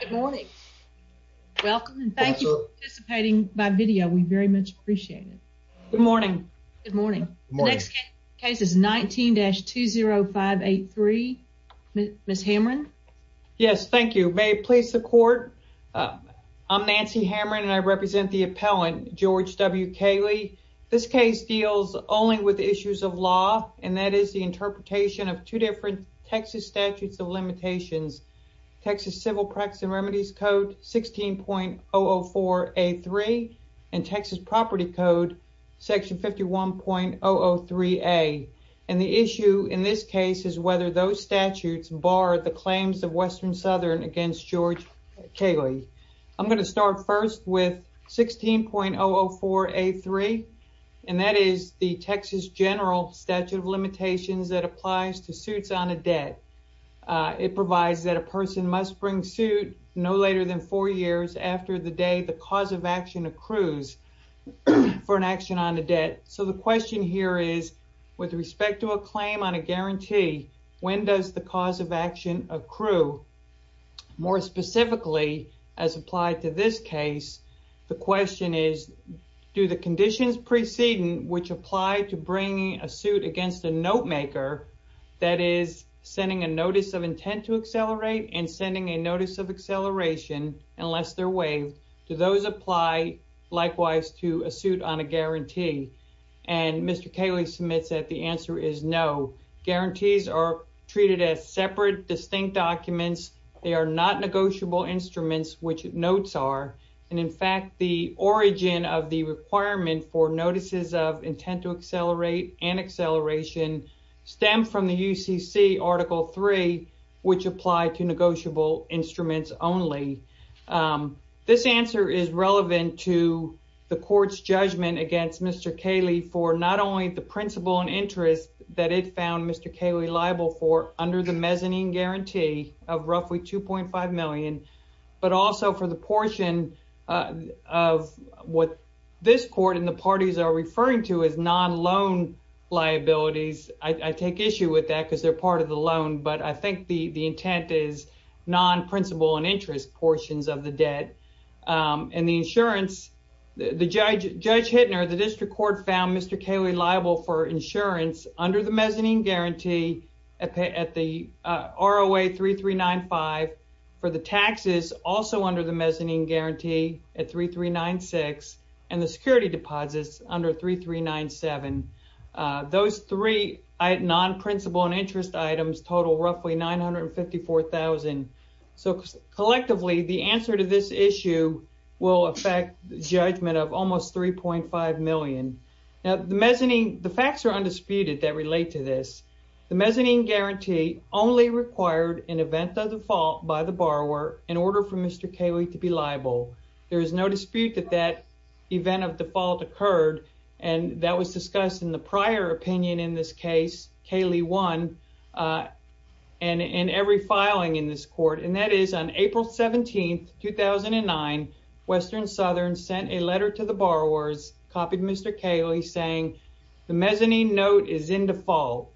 Good morning. Welcome and thank you for participating by video. We very much appreciate it. Good morning. Good morning. The next case is 19-20583. Ms. Hamron. Yes, thank you. May it please the court. I'm Nancy Hamron and I represent the appellant George W. Kaleh. This case deals only with issues of law and that is the interpretation of two different Texas statutes of limitations. Texas Civil Practice and Remedies Code 16.004A3 and Texas Property Code Section 51.003A. The issue in this case is whether those statutes bar the claims of Western-Southern against George Kaleh. I'm going to start first with 16.004A3 and that is the Texas General Statute of Limitations that applies to suits on a debt. It provides that a person must bring suit no later than four years after the day the cause of action accrues for an action on a debt. The question here is with respect to a claim on a guarantee, when does the cause of action accrue? More specifically, as applied to this case, the question is do the conditions preceding which apply to bringing a suit against a note maker, that is sending a notice of intent to accelerate and sending a notice of acceleration unless they're waived, do those apply likewise to a suit on a guarantee? Mr. Kaleh submits that the answer is no. Guarantees are treated as separate, distinct documents. They are not negotiable instruments, which notes are. In fact, the intent to accelerate and acceleration stem from the UCC Article 3, which apply to negotiable instruments only. This answer is relevant to the court's judgment against Mr. Kaleh for not only the principle and interest that it found Mr. Kaleh liable for under the mezzanine guarantee of roughly $2.5 million, but also for the portion of what this court and the parties are referring to as non-loan liabilities. I take issue with that because they're part of the loan, but I think the intent is non-principle and interest portions of the debt. Judge Hittner, the district court found Mr. Kaleh liable for insurance under the mezzanine guarantee at the ROA 3395, for the taxes also under the mezzanine guarantee at 3396, and the security deposits under 3397. Those three non-principle and interest items total roughly $954,000. Collectively, the answer to this issue will affect the judgment of almost $3.5 million. The facts are undisputed that relate to this. The mezzanine guarantee only required an event of default by the borrower in order for Mr. Kaleh to be liable. There is no dispute that that event of default occurred, and that was discussed in the Western Southern sent a letter to the borrowers, copied Mr. Kaleh, saying the mezzanine note is in default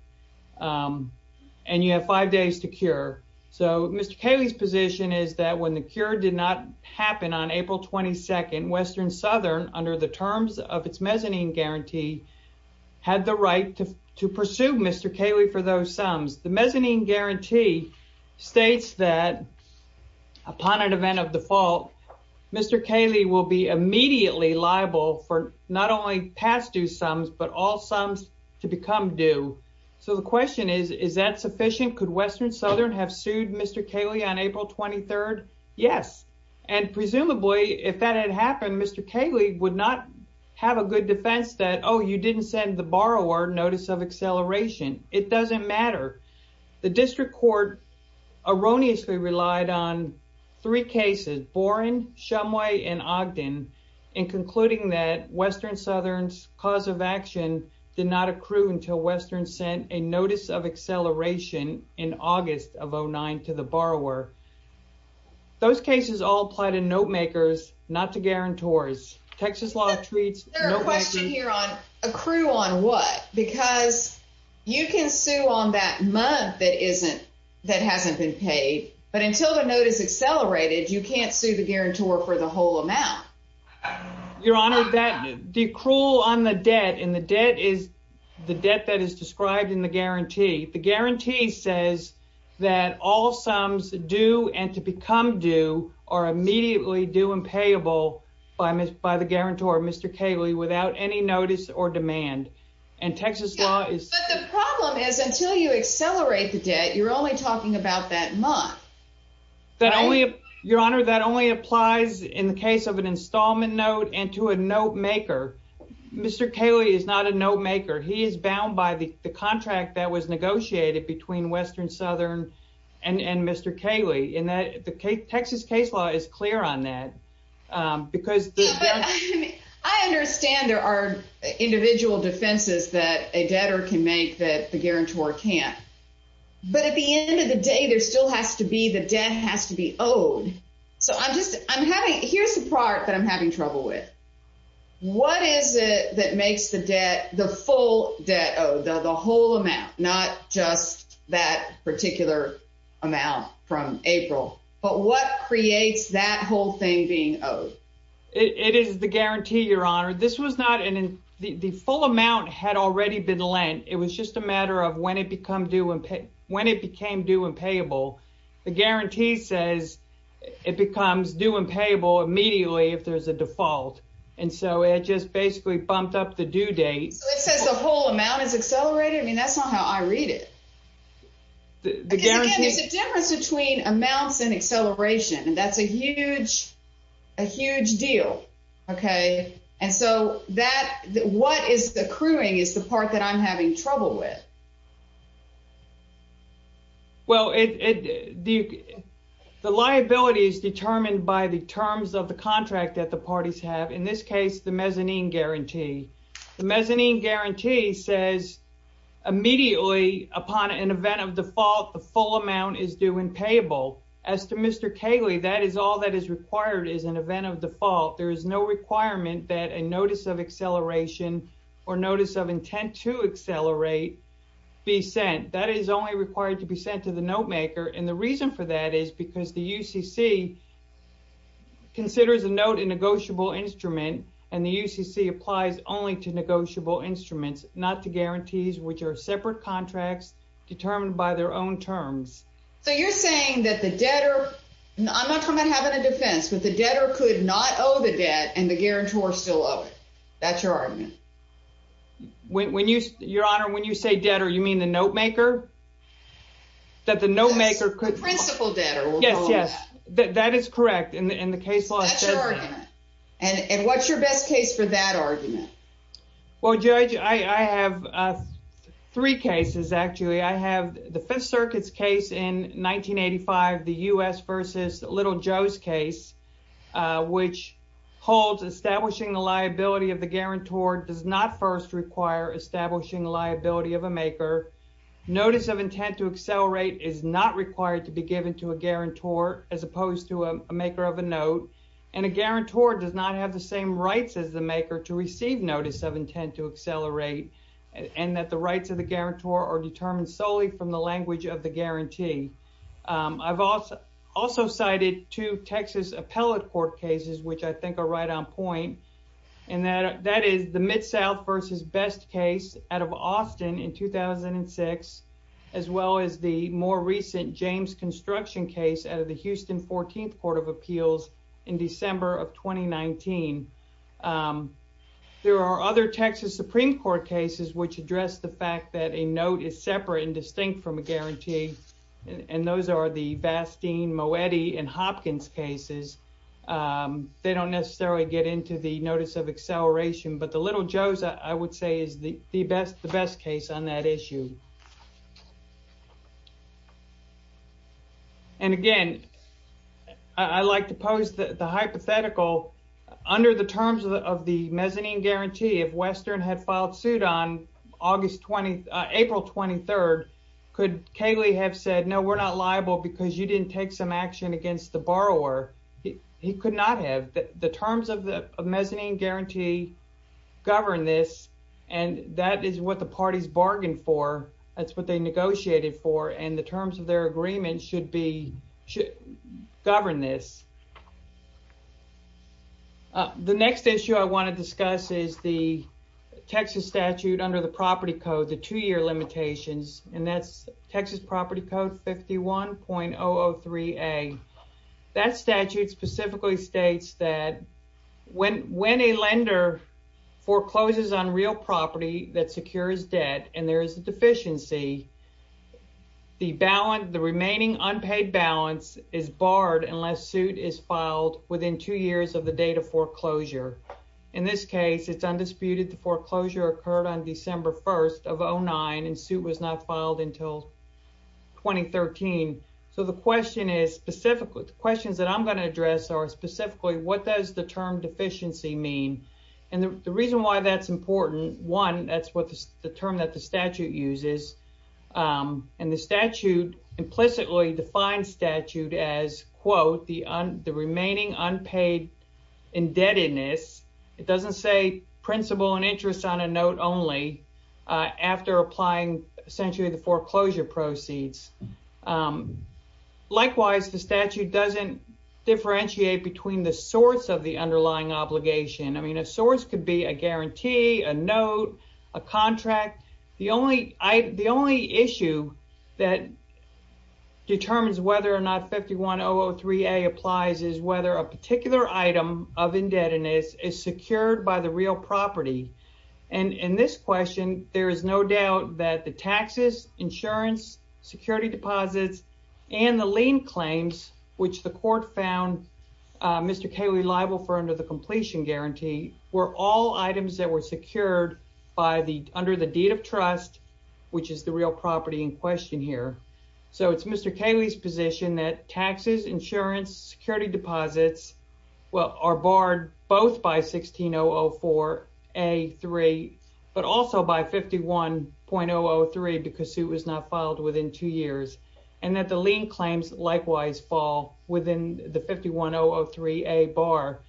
and you have five days to cure. So Mr. Kaleh's position is that when the cure did not happen on April 22nd, Western Southern, under the terms of its mezzanine guarantee, had the right to pursue Mr. Kaleh for those sums. The mezzanine guarantee states that upon an event of default, Mr. Kaleh will be immediately liable for not only past due sums, but all sums to become due. So the question is, is that sufficient? Could Western Southern have sued Mr. Kaleh on April 23rd? Yes. And presumably, if that had happened, Mr. Kaleh would not have a good defense that, oh, you didn't send the borrower notice of acceleration. It doesn't matter. The district court erroneously relied on three cases, Boren, Shumway, and Ogden, in concluding that Western Southern's cause of action did not accrue until Western sent a notice of acceleration in August of 09 to the borrower. Those cases all apply to note makers, not to that month that hasn't been paid. But until the note is accelerated, you can't sue the guarantor for the whole amount. Your Honor, the accrual on the debt, and the debt is the debt that is described in the guarantee. The guarantee says that all sums due and to become due are immediately due and payable by the guarantor, Mr. Kaleh, without any notice or demand. And Texas law is... But the problem is until you accelerate the debt, you're only talking about that month. That only, Your Honor, that only applies in the case of an installment note and to a note maker. Mr. Kaleh is not a note maker. He is bound by the contract that was negotiated between Western Southern and Mr. Kaleh. And the Texas case law is clear on that because... I understand there are individual defenses that a debtor can make that the guarantor can't. But at the end of the day, there still has to be the debt has to be owed. So I'm just, I'm having, here's the part that I'm having trouble with. What is it that makes the debt, the full debt owed, the whole amount, not just that particular amount from April, but what creates that whole thing being owed? It is the guarantee, Your Honor. This was not an... The full amount had already been lent. It was just a matter of when it became due and payable. The guarantee says it becomes due and payable immediately if there's a default. And so it just basically bumped up the due date. So it says the whole amount is accelerated? I mean, that's not how I read it. There's a difference between amounts and acceleration and that's a huge, a huge deal. Okay. And so that, what is accruing is the part that I'm having trouble with. Well, the liability is determined by the terms of the contract that the parties have. In this case, the mezzanine guarantee. The mezzanine guarantee says immediately upon an event of default, the full amount is due and payable. As to Mr. Cayley, that is all that is required is an event of default. There is no requirement that a notice of acceleration or notice of intent to accelerate be sent. That is only required to be sent to the note maker. And the reason for that is because the UCC considers a note a negotiable instrument and the UCC applies only to negotiable terms. So you're saying that the debtor, I'm not talking about having a defense, but the debtor could not owe the debt and the guarantor still owe it. That's your argument? When you, your honor, when you say debtor, you mean the note maker? That the note maker could- The principal debtor. Yes, yes. That is correct. And the case law says- That's your argument. And what's your best case for that argument? Well, Judge, I have three cases actually. I have the Fifth Circuit's case in 1985, the U.S. versus Little Joe's case, which holds establishing the liability of the guarantor does not first require establishing liability of a maker. Notice of intent to accelerate is not required to be given to a guarantor as opposed to a maker of a note. And a guarantor does not have the same rights as the maker to receive notice of intent to accelerate and that the rights of the guarantor are determined solely from the language of the guarantee. I've also cited two Texas appellate court cases, which I think are right on point, and that is the Mid-South versus Best case out of Austin in 2006, as well as the more recent James Construction case out of the Houston 14th Court of Appeals in December of 2019. There are other Texas Supreme Court cases which address the fact that a note is separate and distinct from a guarantee, and those are the Bastine, Moetti, and Hopkins cases. They don't necessarily get into the notice of acceleration, but the Little Joe's, I would say, is the best case on that issue. And again, I like to pose the hypothetical. Under the terms of the mezzanine guarantee, if Western had filed suit on April 23rd, could Caylee have said, no, we're not liable because you didn't take some action against the borrower? He could not have. The terms of the mezzanine guarantee govern this, and that is what the parties bargained for. That's what they negotiated for, and the terms of their agreement should govern this. The next issue I want to discuss is the Texas statute under the property code, the two-year limitations, and that's Texas Property Code 51.003a. That statute specifically states that when a lender forecloses on real property that secures debt and there is a balance, the remaining unpaid balance is barred unless suit is filed within two years of the date of foreclosure. In this case, it's undisputed the foreclosure occurred on December 1st of 2009, and suit was not filed until 2013. So the question is specifically, the questions that I'm going to address are specifically, what does the term deficiency mean? And the reason why that's one, that's the term that the statute uses, and the statute implicitly defines statute as, quote, the remaining unpaid indebtedness. It doesn't say principal and interest on a note only after applying essentially the foreclosure proceeds. Likewise, the statute doesn't differentiate between the source of the underlying obligation. I mean, a source could be a guarantee, a note, a contract. The only issue that determines whether or not 51.003a applies is whether a particular item of indebtedness is secured by the real property. And in this question, there is no doubt that the taxes, insurance, security deposits, and the lien claims, which the court found Mr. Cayley liable for under the completion guarantee, were all items that were secured by the, under the deed of trust, which is the real property in question here. So it's Mr. Cayley's position that taxes, insurance, security deposits are barred both by 16.004a3, but also by 51.003 because suit was not filed within two years, and that the lien claims likewise fall within the 51.003a bar.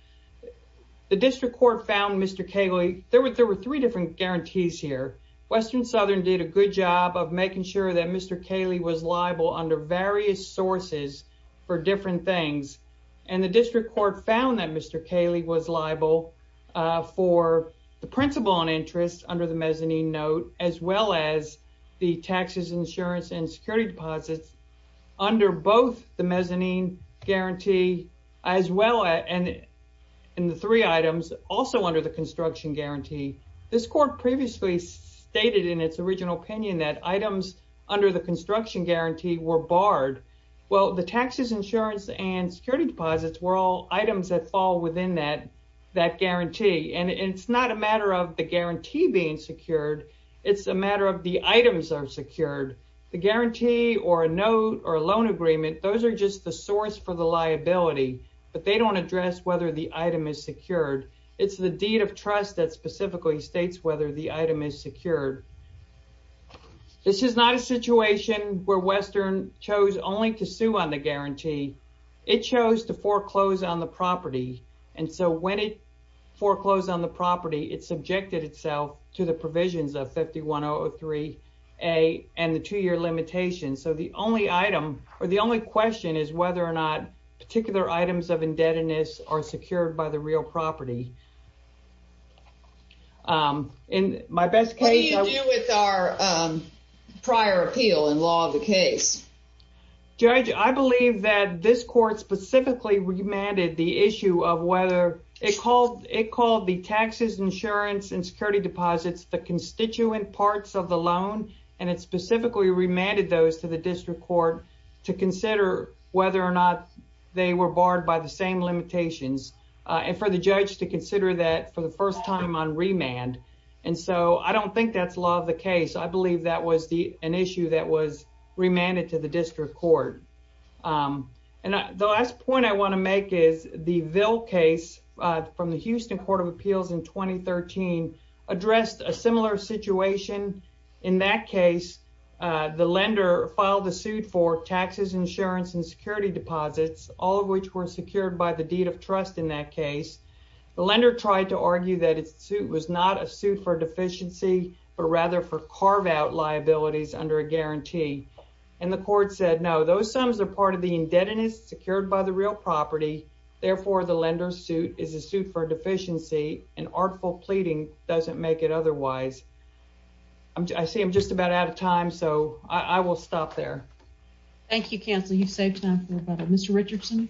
The district court found Mr. Cayley, there were three different guarantees here. Western Southern did a good job of making sure that Mr. Cayley was liable under various sources for different things. And the district court found that Mr. Cayley was liable for the principal and interest under the mezzanine note, as well as the taxes, insurance, and security deposits under both the mezzanine guarantee, as well as in the three items also under the construction guarantee. This court previously stated in its original opinion that items under the construction guarantee were barred. Well, the taxes, insurance, and security deposits were all items that fall within that, that guarantee. And it's not a matter of the guarantee or a note or a loan agreement. Those are just the source for the liability, but they don't address whether the item is secured. It's the deed of trust that specifically states whether the item is secured. This is not a situation where Western chose only to sue on the guarantee. It chose to foreclose on the property. And so when it foreclosed on the limitation, so the only item or the only question is whether or not particular items of indebtedness are secured by the real property. What do you do with our prior appeal and law of the case? Judge, I believe that this court specifically remanded the issue of whether it called the taxes, insurance, and security deposits, the constituent parts of the loan, and it specifically remanded those to the district court to consider whether or not they were barred by the same limitations and for the judge to consider that for the first time on remand. And so I don't think that's law of the case. I believe that was an issue that was remanded to the district court. And the last point I want to make is the Ville case from the Houston Court of Appeals in 2013 addressed a similar situation. In that case, the lender filed a suit for taxes, insurance, and security deposits, all of which were secured by the deed of trust in that case. The lender tried to argue that it was not a suit for deficiency, but rather for carve-out liabilities under a guarantee. And the court said, no, those sums are part of the indebtedness secured by the real property. Therefore, the lender's suit is a suit for deficiency, and artful pleading doesn't make it otherwise. I see I'm just about out of time, so I will stop there. Thank you, counsel. You saved time for a minute. Mr. Richardson.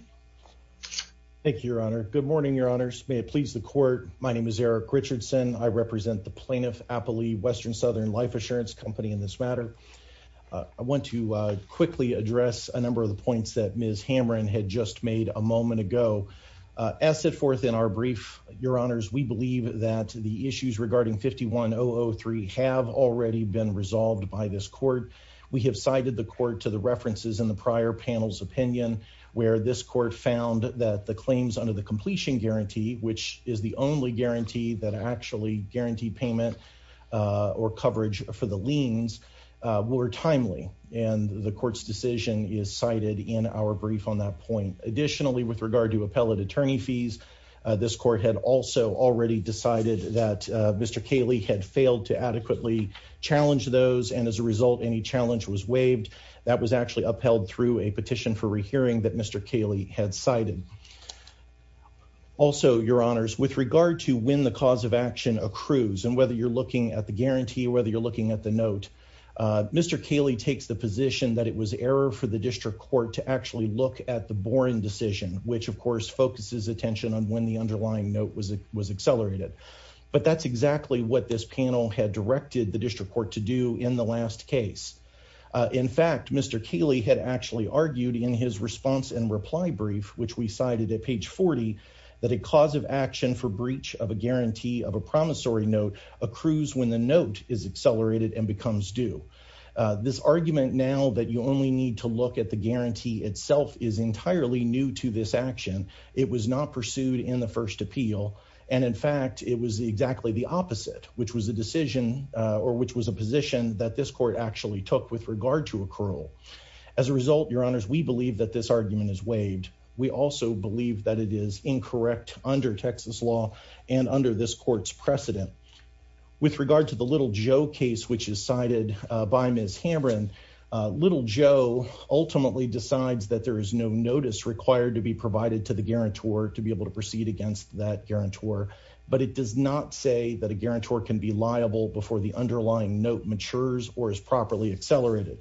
Thank you, your honor. Good morning, your honors. May it please the court. My name is Eric Richardson. I represent the Plaintiff Appellee Western Southern Life Assurance Company in this matter. I want to quickly address a number of the points that Ms. Hamrin had just made a moment ago. As set forth in our brief, your honors, we believe that the issues regarding 51003 have already been resolved by this court. We have cited the court to the references in the prior panel's opinion, where this court found that the claims under the completion guarantee, which is the only guarantee that actually guaranteed payment or coverage for the liens, were timely. And the court's decision is cited in our brief on that point. Additionally, with regard to appellate attorney fees, this court had also already decided that Mr. Kaley had failed to adequately challenge those. And as a result, any challenge was waived. That was actually upheld through a petition for rehearing that Mr. Kaley had cited. Also, your honors, with regard to when the cause of action accrues and whether you're looking at the guarantee, whether you're looking at the note, Mr. Kaley takes the position that it was error for the district court to actually look at the Boren decision, which, of course, focuses attention on when the underlying note was accelerated. But that's exactly what this panel had directed the district court to do in the last case. In fact, Mr. Kaley had actually argued in his response and reply brief, which we cited at page 40, that a cause of action for breach of a guarantee of a promissory note accrues when the note is accelerated and becomes due. This argument now that you only need to look at the guarantee itself is entirely new to this action. It was not pursued in the first appeal. And in fact, it was exactly the opposite, which was a decision or which was a position that this court actually took with regard to accrual. As a result, your honors, we believe that this argument is waived. We also believe that it is incorrect under Texas law and under this court's precedent. With regard to the Little Joe case, which is cited by Ms. Hamren, Little Joe ultimately decides that there is no notice required to be provided to the guarantor to be able to proceed against that guarantor. But it does not say that a guarantor can be liable before the underlying note matures or is properly accelerated.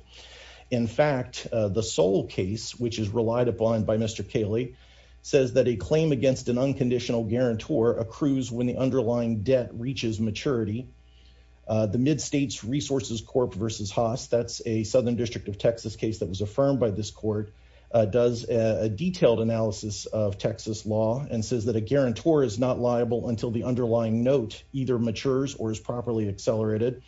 In fact, the Sol case, which is relied upon by Mr. Cayley, says that a claim against an unconditional guarantor accrues when the underlying debt reaches maturity. The Mid-States Resources Corp versus Haas, that's a Southern District of Texas case that was affirmed by this court, does a detailed analysis of Texas law and says that a guarantor is not liable until the underlying note either matures or is properly accelerated.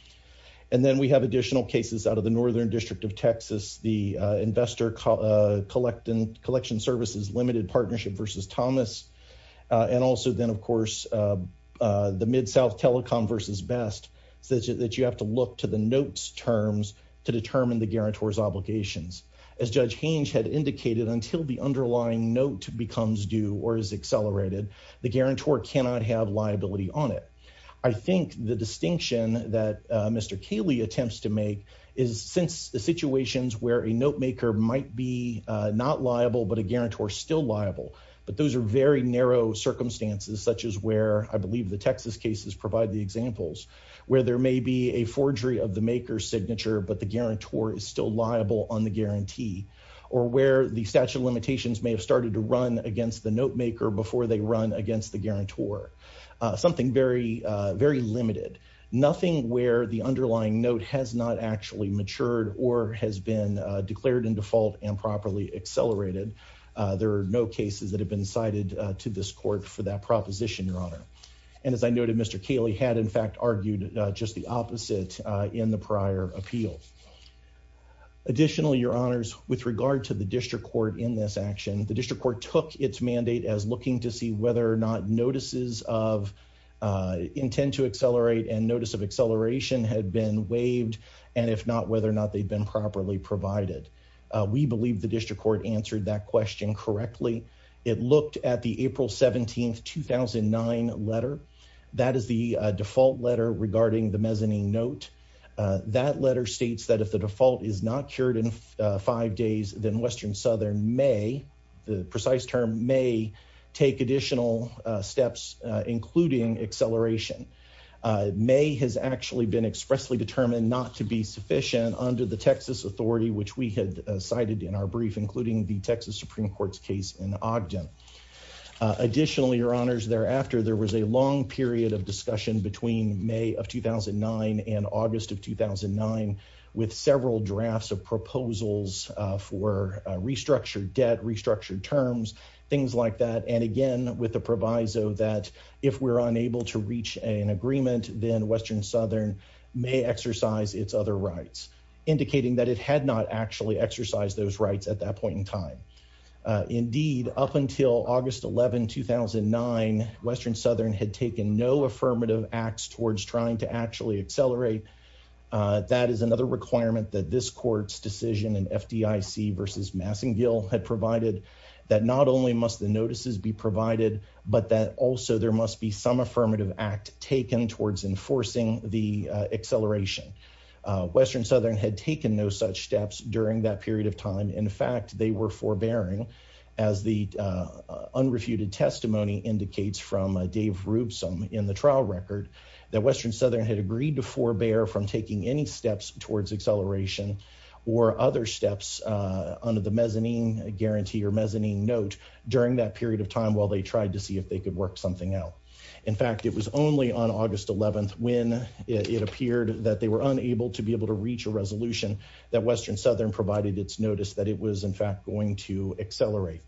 And then we have additional cases out of the Northern District of Texas, the Investor Collection Services Limited Partnership versus Thomas, and also then, of course, the Mid-South Telecom versus Best, that you have to look to the notes terms to determine the guarantor's obligations. As Judge Hange had indicated, until the underlying note becomes due or is accelerated, the guarantor cannot have liability on it. I think the distinction that Mr. Cayley attempts to make is, since the situations where a note maker might be not liable, but a guarantor still liable, but those are very narrow circumstances, such as where I believe the Texas cases provide the examples, where there may be a forgery of the maker's signature, but the guarantor is still liable on the guarantee, or where the statute of limitations may have started to run against the note maker before they run against the guarantor. Something very limited. Nothing where the underlying note has not actually matured or has been declared in default and properly accelerated. There are no cases that have been cited to this court for that proposition, Your Honor. And as I noted, Mr. Cayley had, in fact, argued just the opposite in the prior appeal. Additionally, Your Honors, with regard to the District Court in this action, the District Court took its mandate as looking to see whether or not notices of intent to accelerate and notice of acceleration had been waived, and if not, whether or not they'd been properly provided. We believe the District Court answered that question correctly. It looked at the April 17, 2009 letter. That is the default letter regarding the mezzanine note. That letter states that if the default is not cured in five days, then Western Southern may, the precise term may, take additional steps, including acceleration. May has actually been expressly determined not to be sufficient under the Texas Authority, which we had cited in our brief, including the Texas Supreme Court's case in Ogden. Additionally, Your Honors, thereafter, there was a long period of discussion between May of 2009 and August of 2009, with several drafts of proposals for restructured debt, restructured terms, things like that, and again, with the proviso that if we're unable to reach an agreement, then Western Southern may exercise its other rights, indicating that it had not actually exercised those rights at that point in time. Indeed, up until August 11, 2009, Western Southern had taken no affirmative acts towards trying to actually accelerate. That is another requirement that this Court's decision in FDIC v. Massengill had provided, that not only must the notices be provided, but that also there must be some affirmative act taken towards enforcing the acceleration. Western Southern had taken no such steps during that period of time. In fact, they were forbearing, as the unrefuted testimony indicates from Dave Roobsome in the trial record, that Western Southern had agreed to forbear from taking any steps towards acceleration or other steps under the mezzanine guarantee or mezzanine note during that period of time while they tried to see if they could work something out. In fact, it was only on August 11 when it appeared that they were unable to be able to reach a resolution that Western Southern provided its notice that it was in fact going to accelerate.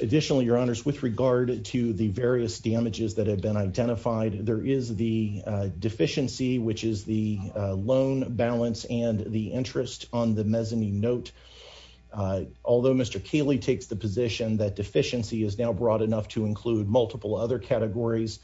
Additionally, Your Honors, with regard to the various damages that have been identified, there is the deficiency, which is the loan balance and the interest on the mezzanine note. Although Mr. Kaley takes the position that deficiency is now broad enough to include multiple other categories,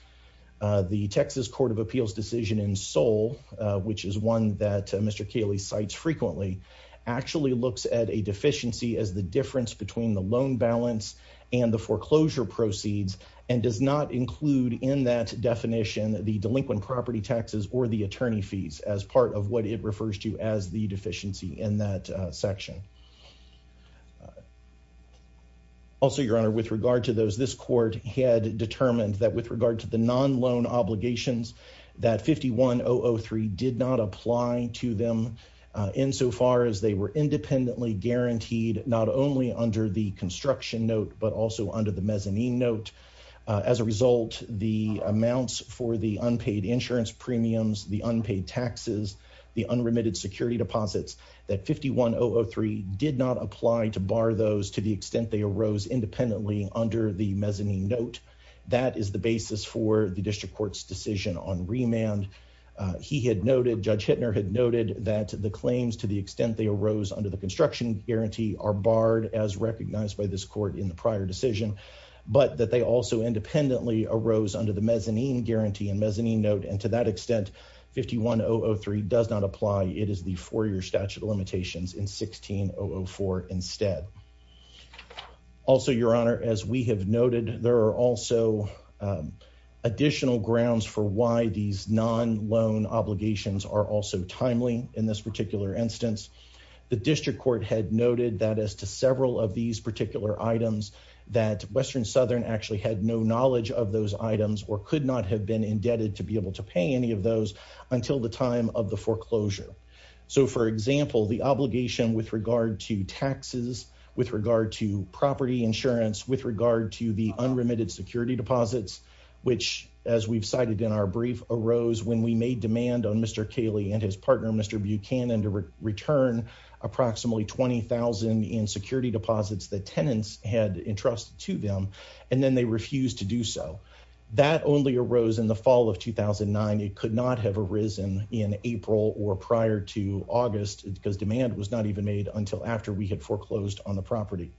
the Texas Court of Appeals decision in Seoul, which is one that Mr. Kaley cites frequently, actually looks at a deficiency as the difference between the loan balance and the foreclosure proceeds and does not include in that definition the delinquent property taxes or the attorney fees as part of what it refers to as the deficiency in that section. Also, Your Honor, with regard to those, this court had determined that with regard to the to them insofar as they were independently guaranteed not only under the construction note but also under the mezzanine note. As a result, the amounts for the unpaid insurance premiums, the unpaid taxes, the unremitted security deposits that 51003 did not apply to bar those to the extent they arose independently under the mezzanine note. That is the basis for the district court's decision on remand. He had noted, Judge Hittner had noted, that the claims to the extent they arose under the construction guarantee are barred as recognized by this court in the prior decision, but that they also independently arose under the mezzanine guarantee and mezzanine note and to that extent 51003 does not apply. It is the four-year statute of grounds for why these non-loan obligations are also timely in this particular instance. The district court had noted that as to several of these particular items that Western Southern actually had no knowledge of those items or could not have been indebted to be able to pay any of those until the time of the foreclosure. So, for example, the obligation with regard to taxes, with regard to property insurance, with regard to the unremitted security deposits, which as we've cited in our brief arose when we made demand on Mr. Cayley and his partner, Mr. Buchanan, to return approximately 20,000 in security deposits that tenants had entrusted to them and then they refused to do so. That only arose in the fall of 2009. It could not have arisen in April or prior to August because demand was not even made until after we had foreclosed on the property.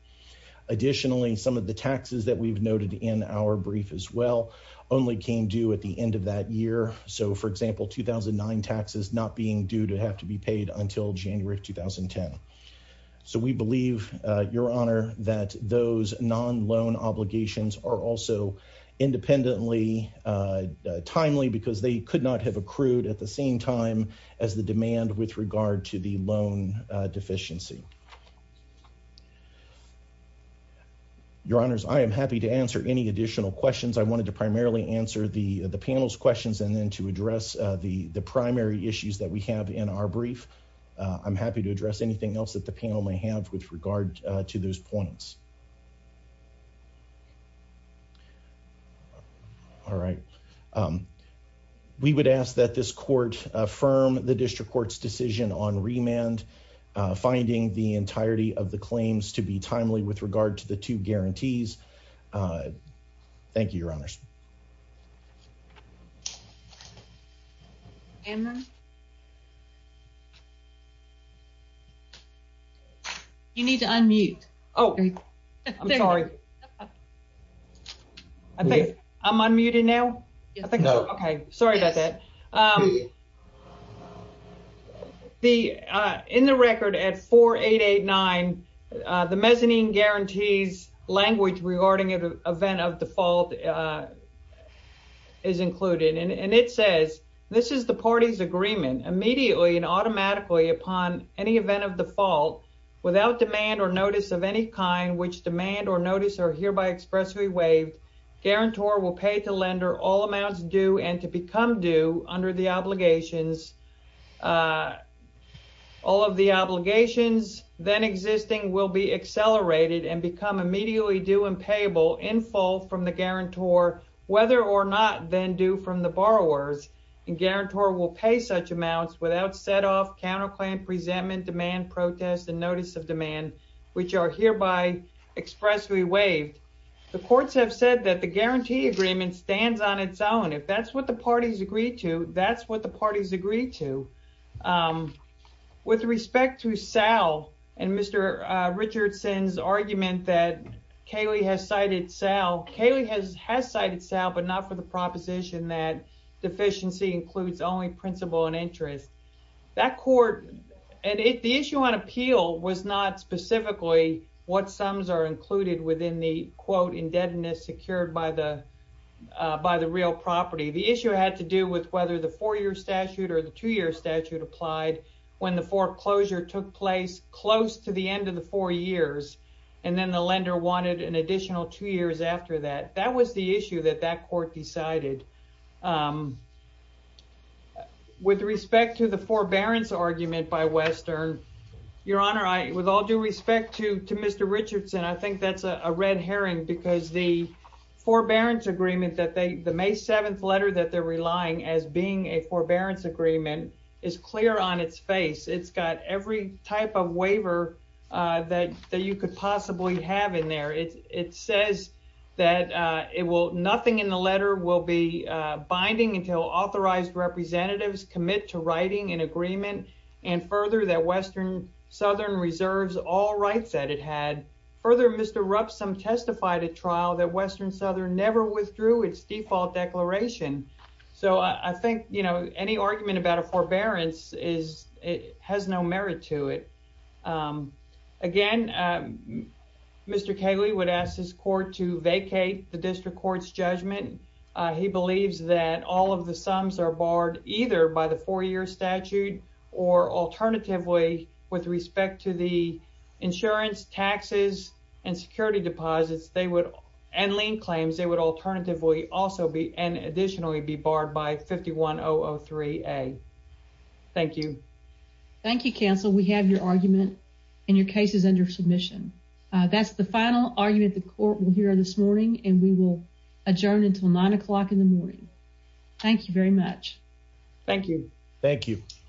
Additionally, some of the taxes that we've noted in our brief as well only came due at the end of that year. So, for example, 2009 taxes not being due to have to be paid until January of 2010. So, we believe, your honor, that those non-loan obligations are also independently timely because they could not have accrued at the same time as the demand with regard to the loan deficiency. Your honors, I am happy to answer any additional questions. I wanted to primarily answer the panel's questions and then to address the primary issues that we have in our brief. I'm happy to address anything else that the panel may have with regard to those points. All right. We would ask that this court affirm the district court's decision on remand, finding the entirety of the claims to be timely with regard to the two guarantees. Thank you, your honors. You need to unmute. Oh, I'm sorry. I'm unmuted now? No. Okay. Sorry about that. In the record at 4889, the mezzanine guarantees language regarding an event of default is included. And it says, this is the party's agreement. Immediately and automatically upon any event of default, without demand or notice of any kind, which demand or notice are hereby expressly waived, guarantor will pay to lender all amounts due and to become due under the obligations. All of the obligations then existing will be accelerated and become immediately due and payable in full from the guarantor, whether or not then due from the borrowers, and guarantor will pay such amounts without set off counterclaim, presentment, demand, protest, and notice of demand, which are hereby expressly waived. The courts have said that the guarantee agreement stands on its own. If that's what the parties agree to, that's what the parties agree to. With respect to Sal and Mr. Richardson's argument that Kaley has cited Sal, Kaley has cited Sal, but not for the proposition that deficiency includes only principle and interest. That court, and if the issue on appeal was not specifically what sums are included within the, quote, indebtedness secured by the real property, the issue had to do with whether the four-year statute or the two-year statute applied when the foreclosure took place close to the end of the four years, and then the lender wanted an additional two years after that. That was the issue that that court decided. With respect to the forbearance argument by Western, Your Honor, with all due respect to Mr. Richardson, I think that's a red herring because the agreement, the May 7th letter that they're relying as being a forbearance agreement is clear on its face. It's got every type of waiver that you could possibly have in there. It says that nothing in the letter will be binding until authorized representatives commit to writing an agreement, and further, that Western Southern Reserves all rights that it had. Further, Mr. Rupsom testified at trial that Western Southern never withdrew its default declaration, so I think, you know, any argument about a forbearance has no merit to it. Again, Mr. Kaley would ask his court to vacate the district court's judgment. He believes that all of the sums are barred either by the four-year statute or, alternatively, with respect to the insurance, taxes, and security deposits and lien claims, they would alternatively also and additionally be barred by 51003A. Thank you. Thank you, counsel. We have your argument and your case is under submission. That's the final argument the court will hear this morning, and we will adjourn until 9 o'clock in the morning. Thank you very much. Thank you. Thank you.